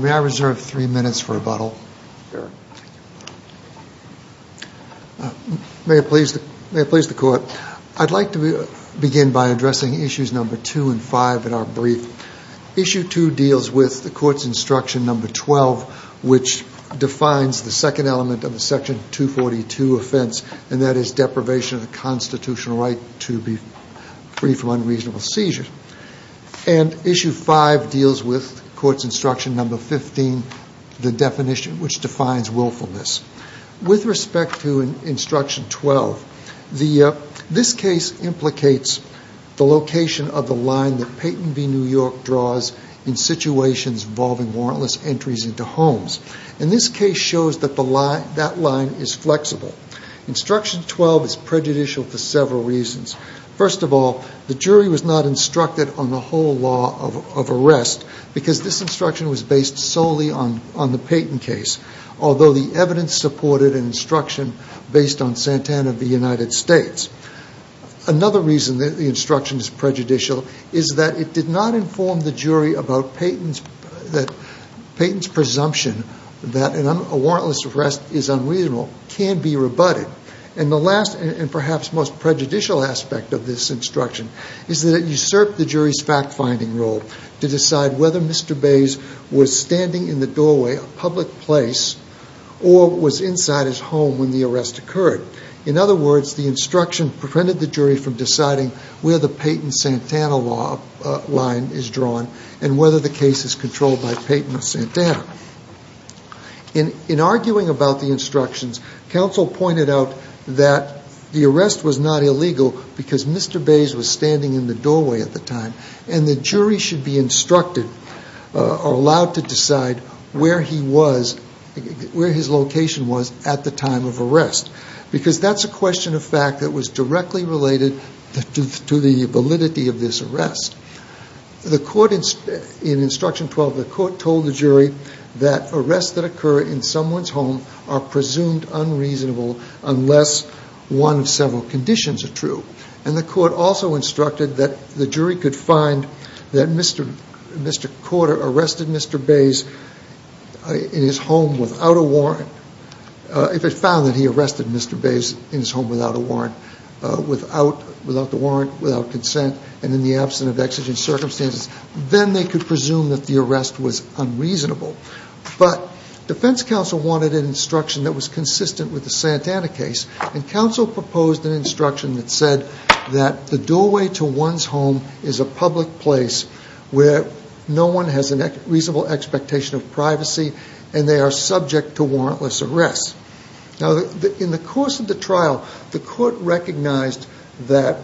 May I reserve three minutes for rebuttal? May I please the court? I'd like to begin by addressing issues number two and five in our brief. Issue two deals with the court's instruction number twelve, which defines the second element of the section 242 offense, and that is deprivation of the constitutional right to be free from unreasonable seizures. And issue five deals with court's instruction number fifteen, the definition which defines willfulness. With respect to instruction twelve, this case implicates the location of the line that Peyton v. New York draws in situations involving warrantless entries into homes. And this case shows that that line is flexible. Instruction twelve is prejudicial for several reasons. First of all, the jury was not instructed on the whole law of arrest because this instruction was based solely on the Peyton case, although the evidence supported an instruction based on Santana v. United States. Another reason that the instruction is prejudicial is that it did not inform the jury about Peyton's presumption that a warrantless arrest is unreasonable can be rebutted. And the last and perhaps most prejudicial aspect of this instruction is that it usurped the jury's fact-finding role to decide whether Mr. Bays was standing in the doorway, a public place, or was inside his home when the arrest occurred. In other words, the instruction prevented the jury from deciding where the Peyton-Santana line is drawn and whether the case is controlled by Peyton or Santana. In arguing about the instructions, counsel pointed out that the arrest was not illegal because Mr. Bays was standing in the doorway at the time and the jury should be instructed or allowed to decide where his location was at the time of arrest because that's a question of fact that was directly related to the validity of this arrest. In instruction 12, the court told the jury that arrests that occur in someone's home are presumed unreasonable unless one of several conditions are true. And the court also instructed that the jury could find that Mr. Corder arrested Mr. Bays in his home without a warrant. If it found that he arrested Mr. Bays in his home without a warrant, without the warrant, without consent, and in the absence of exigent circumstances, then they could presume that the arrest was unreasonable. But defense counsel wanted an instruction that was consistent with the Santana case and counsel proposed an instruction that said that the doorway to one's home is a public place where no one has a reasonable expectation of privacy and they are subject to warrantless arrests. Now, in the course of the trial, the court recognized that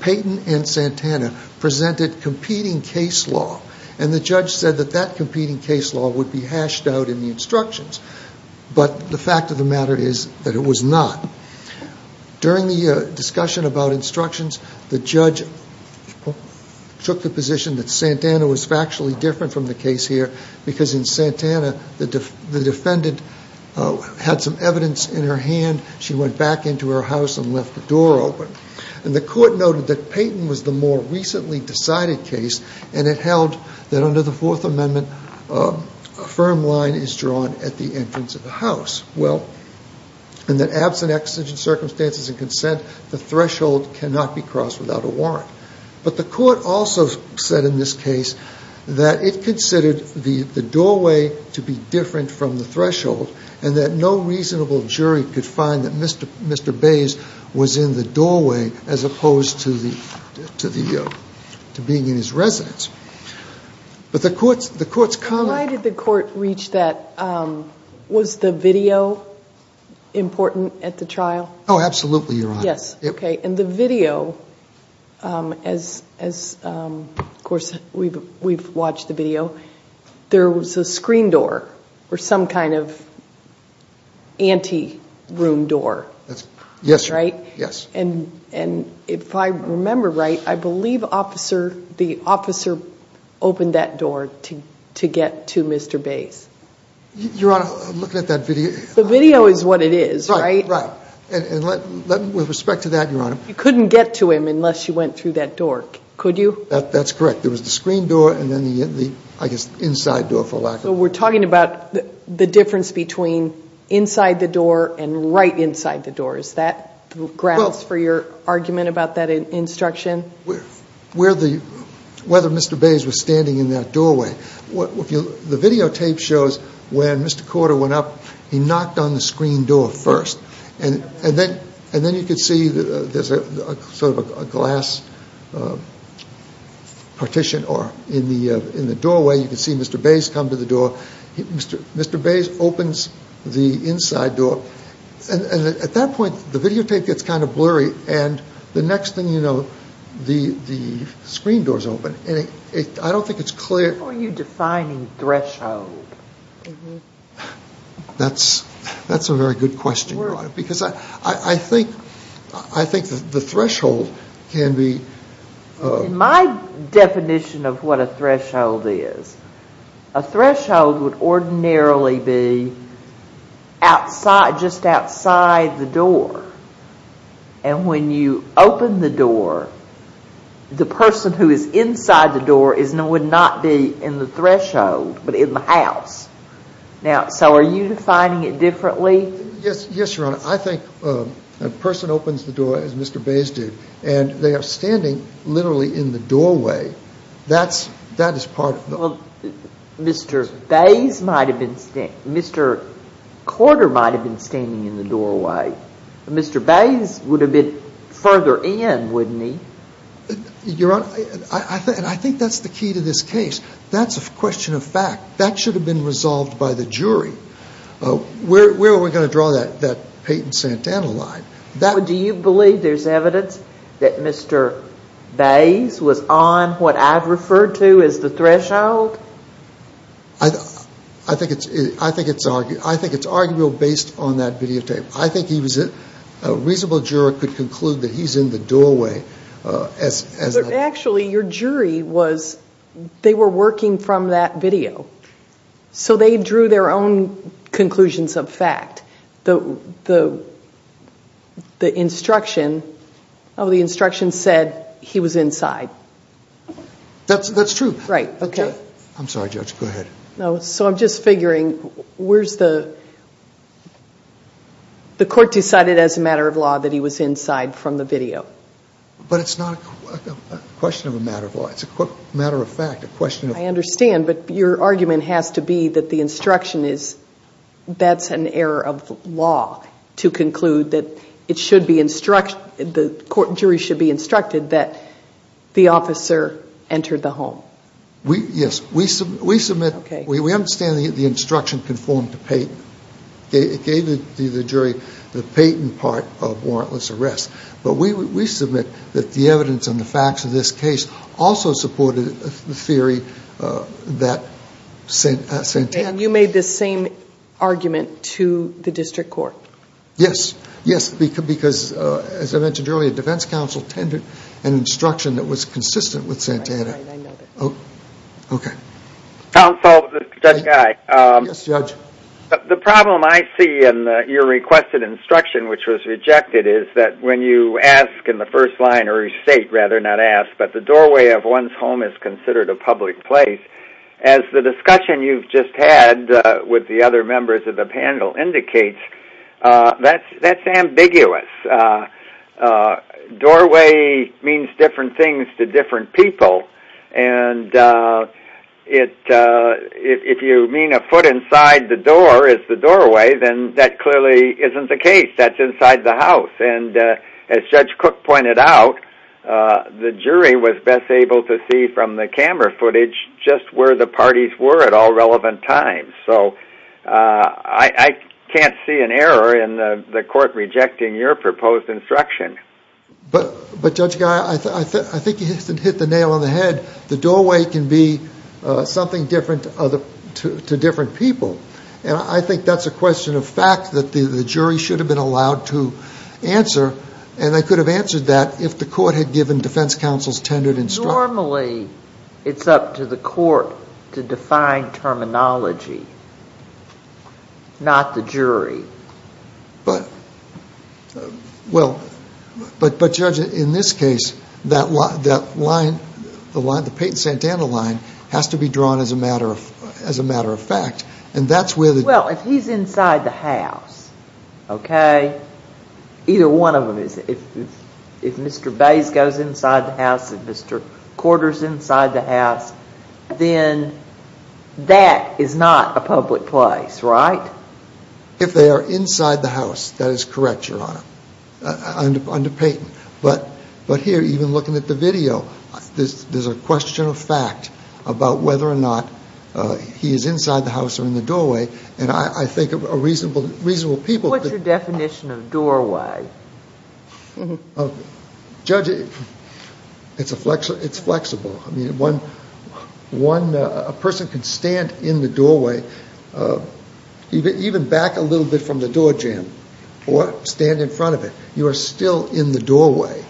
Payton and Santana presented competing case law and the judge said that that competing case law would be hashed out in the instructions. But the fact of the matter is that it was not. During the discussion about instructions, the judge took the position that Santana was factually different from the case here because in Santana, the defendant had some evidence in her hand, she went back into her house and left the door open. And the court noted that Payton was the more recently decided case and it held that under the Fourth Amendment, a firm line is drawn at the entrance of the house. Well, in the absence of exigent circumstances and consent, the threshold cannot be crossed without a warrant. But the court also said in this case that it considered the doorway to be different from the threshold and that no reasonable jury could find that Mr. Bays was in the doorway as opposed to being in his residence. But the court's comment. Why did the court reach that? Was the video important at the trial? Oh, absolutely, Your Honor. Yes. OK. And the video, as, of course, we've watched the video, there was a screen door or some kind of anti-room door. Yes. Right? Yes. And if I remember right, I believe the officer opened that door to get to Mr. Bays. Your Honor, looking at that video. The video is what it is, right? Right. And with respect to that, Your Honor. You couldn't get to him unless you went through that door, could you? That's correct. There was the screen door and then the, I guess, inside door, for lack of a better word. So we're talking about the difference between inside the door and right inside the door. Is that grounds for your argument about that instruction? Well, whether Mr. Bays was standing in that doorway. The videotape shows when Mr. Corder went up, he knocked on the screen door first. And then you could see there's sort of a glass partition in the doorway. You could see Mr. Bays come to the door. Mr. Bays opens the inside door. And at that point, the videotape gets kind of blurry. And the next thing you know, the screen door is open. I don't think it's clear. How are you defining threshold? That's a very good question, Your Honor. Because I think the threshold can be... In my definition of what a threshold is, a threshold would ordinarily be just outside the door. And when you open the door, the person who is inside the door would not be in the threshold, but in the house. Now, so are you defining it differently? Yes, Your Honor. I think a person opens the door, as Mr. Bays did, and they are standing literally in the doorway. That is part of the... Mr. Bays might have been standing... Mr. Corder might have been standing in the doorway. Mr. Bays would have been further in, wouldn't he? Your Honor, I think that's the key to this case. That's a question of fact. That should have been resolved by the jury. Where are we going to draw that Peyton Santana line? Do you believe there's evidence that Mr. Bays was on what I've referred to as the threshold? I think it's arguable based on that videotape. I think a reasonable juror could conclude that he's in the doorway. Actually, your jury was... They were working from that video. So they drew their own conclusions of fact. The instruction said he was inside. That's true. I'm sorry, Judge. Go ahead. So I'm just figuring, where's the... The court decided as a matter of law that he was inside from the video. But it's not a question of a matter of law. It's a matter of fact, a question of... I understand, but your argument has to be that the instruction is... That's an error of law to conclude that it should be instruction... The court jury should be instructed that the officer entered the home. Yes. We submit... Okay. We understand the instruction conformed to Peyton. It gave the jury the Peyton part of warrantless arrest. But we submit that the evidence and the facts of this case also supported the theory that Santana... And you made this same argument to the district court. Yes. Yes, because, as I mentioned earlier, defense counsel tended an instruction that was consistent with Santana. Right, right. I know that. Okay. Counsel, Judge Guy. Yes, Judge. The problem I see in your requested instruction, which was rejected, is that when you ask in the first line or state, rather not ask, but the doorway of one's home is considered a public place, as the discussion you've just had with the other members of the panel indicates, that's ambiguous. Doorway means different things to different people. And if you mean a foot inside the door is the doorway, then that clearly isn't the case. That's inside the house. And as Judge Cook pointed out, the jury was best able to see from the camera footage just where the parties were at all relevant times. So I can't see an error in the court rejecting your proposed instruction. But, Judge Guy, I think you hit the nail on the head. The doorway can be something different to different people. And I think that's a question of fact that the jury should have been allowed to answer, and they could have answered that if the court had given defense counsel's tendered instruction. Normally it's up to the court to define terminology, not the jury. But, Judge, in this case, that line, the Peyton-Santana line, has to be drawn as a matter of fact. Well, if he's inside the house, okay, either one of them is. If Mr. Bays goes inside the house, if Mr. Corder's inside the house, then that is not a public place, right? If they are inside the house, that is correct, Your Honor, under Peyton. But here, even looking at the video, there's a question of fact about whether or not he is inside the house or in the doorway. And I think a reasonable people could— What's your definition of doorway? Judge, it's flexible. I mean, a person can stand in the doorway, even back a little bit from the doorjamb, or stand in front of it. You are still in the doorway.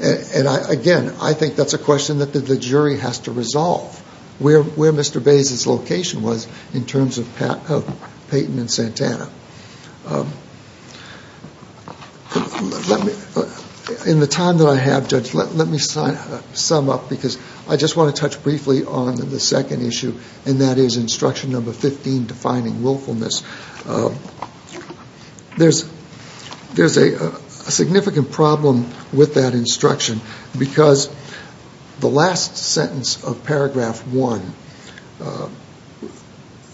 And, again, I think that's a question that the jury has to resolve, where Mr. Bays' location was in terms of Peyton and Santana. In the time that I have, Judge, let me sum up, because I just want to touch briefly on the second issue, and that is instruction number 15, defining willfulness. There's a significant problem with that instruction, because the last sentence of paragraph 1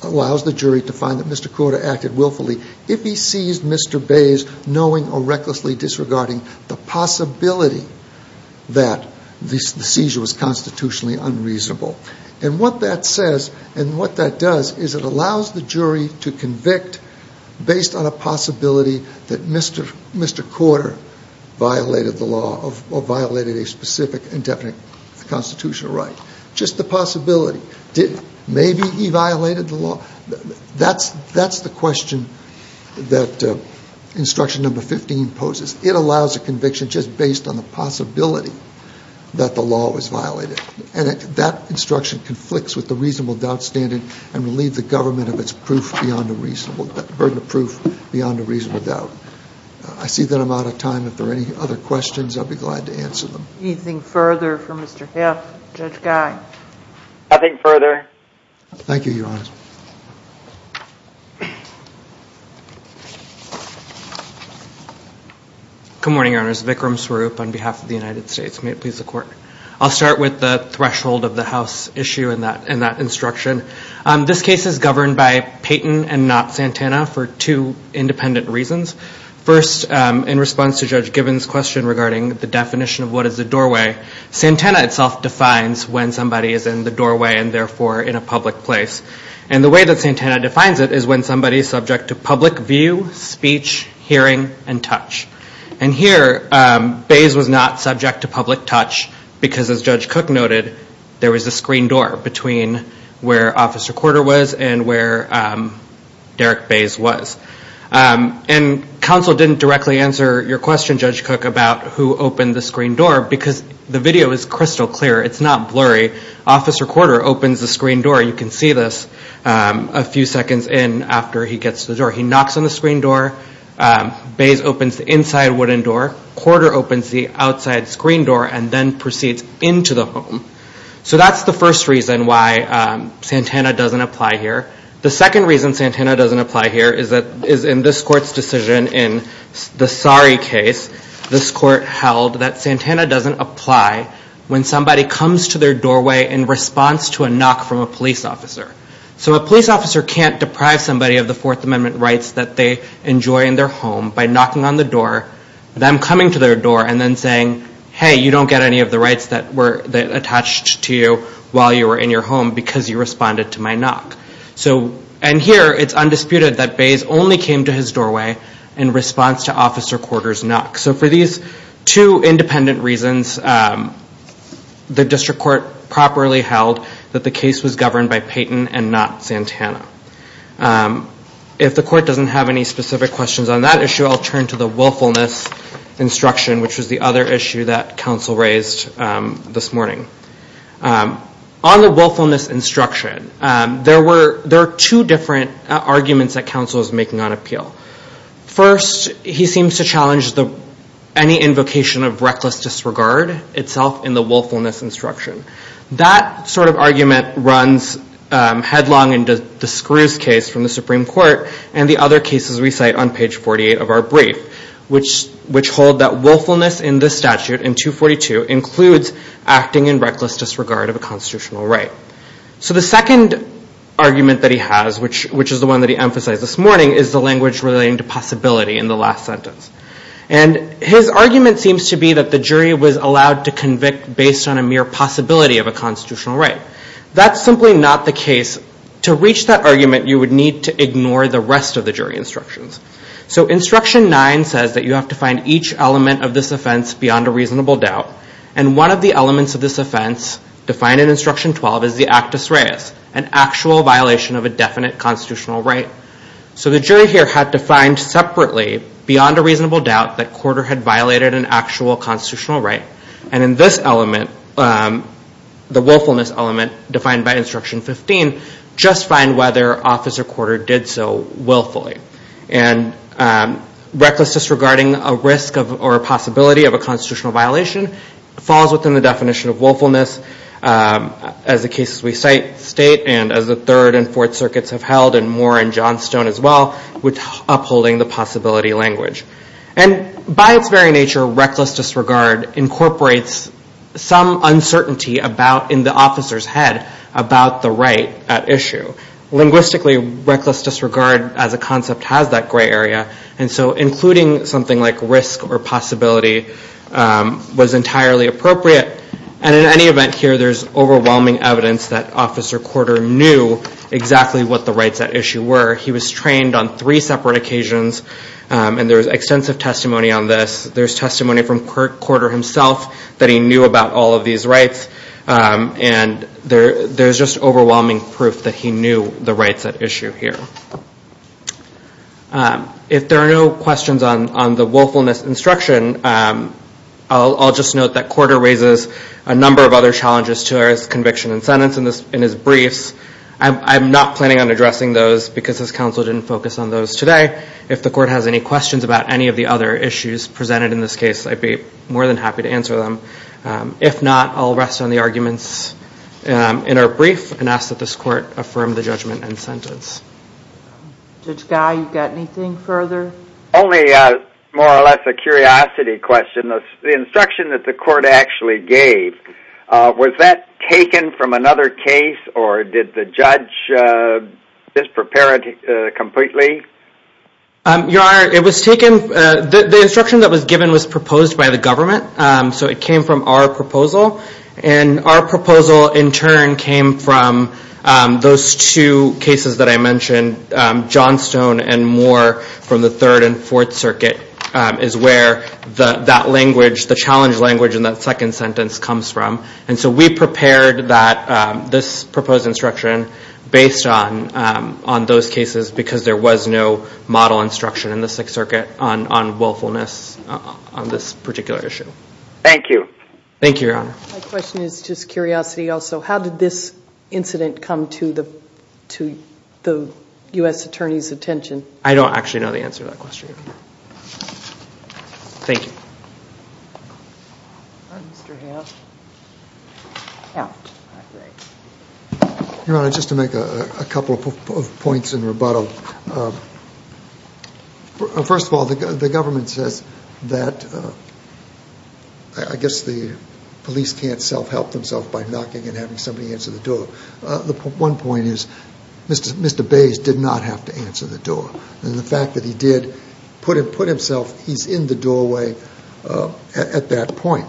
allows the jury to find that Mr. Corder acted willfully. If he seized Mr. Bays, knowing or recklessly disregarding the possibility that the seizure was constitutionally unreasonable. And what that says and what that does is it allows the jury to convict based on a possibility that Mr. Corder violated the law or violated a specific indefinite constitutional right. Just the possibility. Maybe he violated the law. That's the question that instruction number 15 poses. It allows a conviction just based on the possibility that the law was violated. And that instruction conflicts with the reasonable doubt standard and will leave the government of its burden of proof beyond a reasonable doubt. I see that I'm out of time. If there are any other questions, I'll be glad to answer them. Anything further for Mr. Heff, Judge Gein? Nothing further. Thank you, Your Honor. Good morning, Your Honors. Vikram Swaroop on behalf of the United States. May it please the Court. I'll start with the threshold of the House issue in that instruction. This case is governed by Payton and not Santana for two independent reasons. First, in response to Judge Gibbons' question regarding the definition of what is a doorway, Santana itself defines when somebody is in the doorway and, therefore, in a public place. And the way that Santana defines it is when somebody is subject to public view, speech, hearing, and touch. And here, Bays was not subject to public touch because, as Judge Cook noted, there was a screen door between where Officer Quarter was and where Derrick Bays was. And counsel didn't directly answer your question, Judge Cook, about who opened the screen door because the video is crystal clear. It's not blurry. Officer Quarter opens the screen door. You can see this a few seconds in after he gets to the door. He knocks on the screen door. Bays opens the inside wooden door. Quarter opens the outside screen door and then proceeds into the home. So that's the first reason why Santana doesn't apply here. The second reason Santana doesn't apply here is in this Court's decision in the Sari case, this Court held that Santana doesn't apply when somebody comes to their doorway in response to a knock from a police officer. So a police officer can't deprive somebody of the Fourth Amendment rights that they enjoy in their home by knocking on the door, them coming to their door, and then saying, hey, you don't get any of the rights that were attached to you while you were in your home because you responded to my knock. And here it's undisputed that Bays only came to his doorway in response to Officer Quarter's knock. So for these two independent reasons, the District Court properly held that the case was governed by Payton and not Santana. If the Court doesn't have any specific questions on that issue, I'll turn to the willfulness instruction, which was the other issue that counsel raised this morning. On the willfulness instruction, there are two different arguments that counsel is making on appeal. First, he seems to challenge any invocation of reckless disregard itself in the willfulness instruction. That sort of argument runs headlong into the Screws case from the Supreme Court and the other cases we cite on page 48 of our brief, which hold that willfulness in this statute, in 242, includes acting in reckless disregard of a constitutional right. So the second argument that he has, which is the one that he emphasized this morning, is the language relating to possibility in the last sentence. And his argument seems to be that the jury was allowed to convict based on a mere possibility of a constitutional right. That's simply not the case. To reach that argument, you would need to ignore the rest of the jury instructions. So instruction 9 says that you have to find each element of this offense beyond a reasonable doubt. And one of the elements of this offense defined in instruction 12 is the actus reus, an actual violation of a definite constitutional right. So the jury here had to find separately, beyond a reasonable doubt, that Corder had violated an actual constitutional right. And in this element, the willfulness element defined by instruction 15, just find whether Officer Corder did so willfully. And reckless disregarding a risk or a possibility of a constitutional violation falls within the definition of willfulness, as the cases we cite state, and as the Third and Fourth Circuits have held, and more in Johnstone as well, with upholding the possibility language. And by its very nature, reckless disregard incorporates some uncertainty in the officer's head about the right at issue. Linguistically, reckless disregard as a concept has that gray area. And so including something like risk or possibility was entirely appropriate. And in any event here, there's overwhelming evidence that Officer Corder knew exactly what the rights at issue were. He was trained on three separate occasions, and there was extensive testimony on this. There's testimony from Corder himself that he knew about all of these rights. And there's just overwhelming proof that he knew the rights at issue here. If there are no questions on the willfulness instruction, I'll just note that Corder raises a number of other challenges to his conviction and sentence in his briefs. I'm not planning on addressing those because his counsel didn't focus on those today. If the court has any questions about any of the other issues presented in this case, I'd be more than happy to answer them. If not, I'll rest on the arguments in our brief and ask that this court affirm the judgment and sentence. Judge Guy, you've got anything further? Only more or less a curiosity question. The instruction that the court actually gave, was that taken from another case, or did the judge just prepare it completely? Your Honor, it was taken, the instruction that was given was proposed by the government. So it came from our proposal, and our proposal in turn came from those two cases that I mentioned, Johnstone and Moore from the Third and Fourth Circuit, is where that language, the challenge language in that second sentence comes from. And so we prepared this proposed instruction based on those cases because there was no model instruction in the Sixth Circuit on willfulness on this particular issue. Thank you. Thank you, Your Honor. My question is just curiosity also. How did this incident come to the U.S. Attorney's attention? I don't actually know the answer to that question. Thank you. Mr. Hamm. Your Honor, just to make a couple of points in rebuttal. First of all, the government says that I guess the police can't self-help themselves by knocking and having somebody answer the door. One point is Mr. Bays did not have to answer the door. And the fact that he did put himself, he's in the doorway at that point.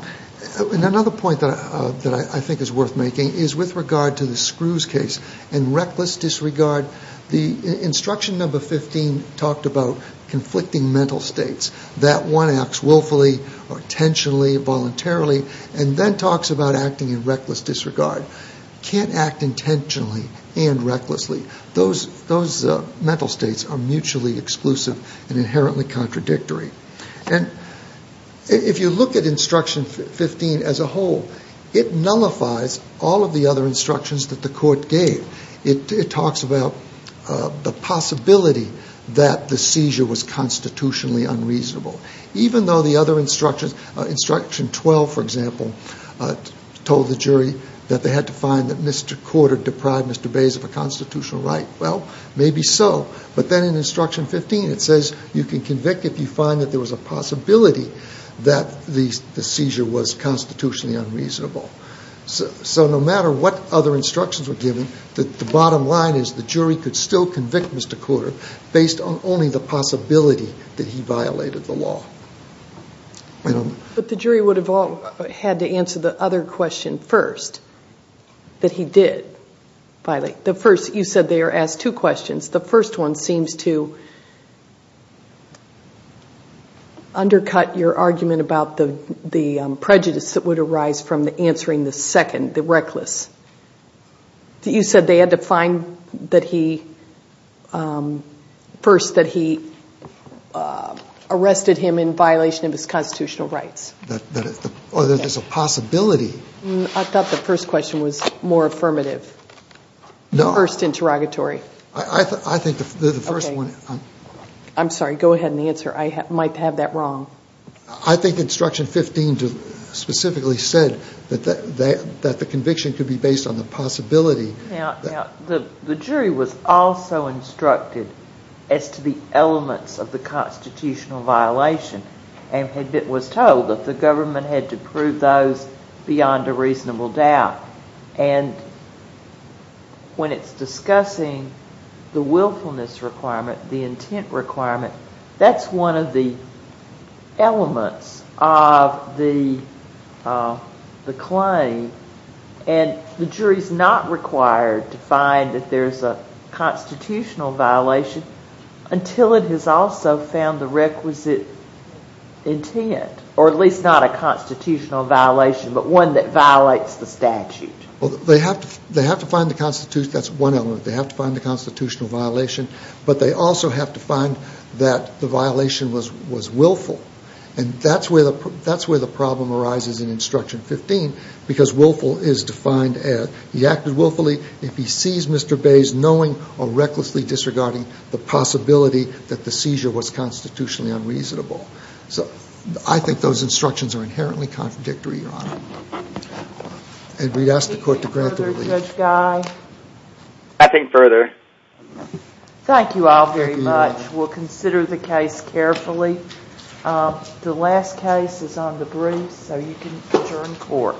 And another point that I think is worth making is with regard to the Screws case and reckless disregard, the instruction number 15 talked about conflicting mental states, that one acts willfully or intentionally, voluntarily, and then talks about acting in reckless disregard. You can't act intentionally and recklessly. Those mental states are mutually exclusive and inherently contradictory. And if you look at instruction 15 as a whole, it nullifies all of the other instructions that the court gave. It talks about the possibility that the seizure was constitutionally unreasonable. Even though the other instructions, instruction 12, for example, told the jury that they had to find that Mr. Corder deprived Mr. Bays of a constitutional right. Well, maybe so. But then in instruction 15 it says you can convict if you find that there was a possibility that the seizure was constitutionally unreasonable. So no matter what other instructions were given, the bottom line is the jury could still convict Mr. Corder based on only the possibility that he violated the law. But the jury would have all had to answer the other question first, that he did violate. The first, you said they were asked two questions. The first one seems to undercut your argument about the prejudice that would arise from answering the second, the reckless. You said they had to find that he, first, that he arrested him in violation of his constitutional rights. Or that there's a possibility. I thought the first question was more affirmative. No. The first interrogatory. I think the first one. I'm sorry, go ahead and answer. I might have that wrong. I think instruction 15 specifically said that the conviction could be based on the possibility. Now, the jury was also instructed as to the elements of the constitutional violation and was told that the government had to prove those beyond a reasonable doubt. And when it's discussing the willfulness requirement, the intent requirement, that's one of the elements of the claim. And the jury's not required to find that there's a constitutional violation until it has also found the requisite intent. Or at least not a constitutional violation, but one that violates the statute. They have to find the constitutional, that's one element. They have to find the constitutional violation. But they also have to find that the violation was willful. And that's where the problem arises in instruction 15. Because willful is defined as he acted willfully if he sees Mr. Bays knowing or recklessly disregarding the possibility that the seizure was constitutionally unreasonable. So I think those instructions are inherently contradictory, Your Honor. And we'd ask the court to grant the relief. Anything further, Judge Guy? Nothing further. Thank you all very much. We'll consider the case carefully. The last case is on the briefs, so you can adjourn court.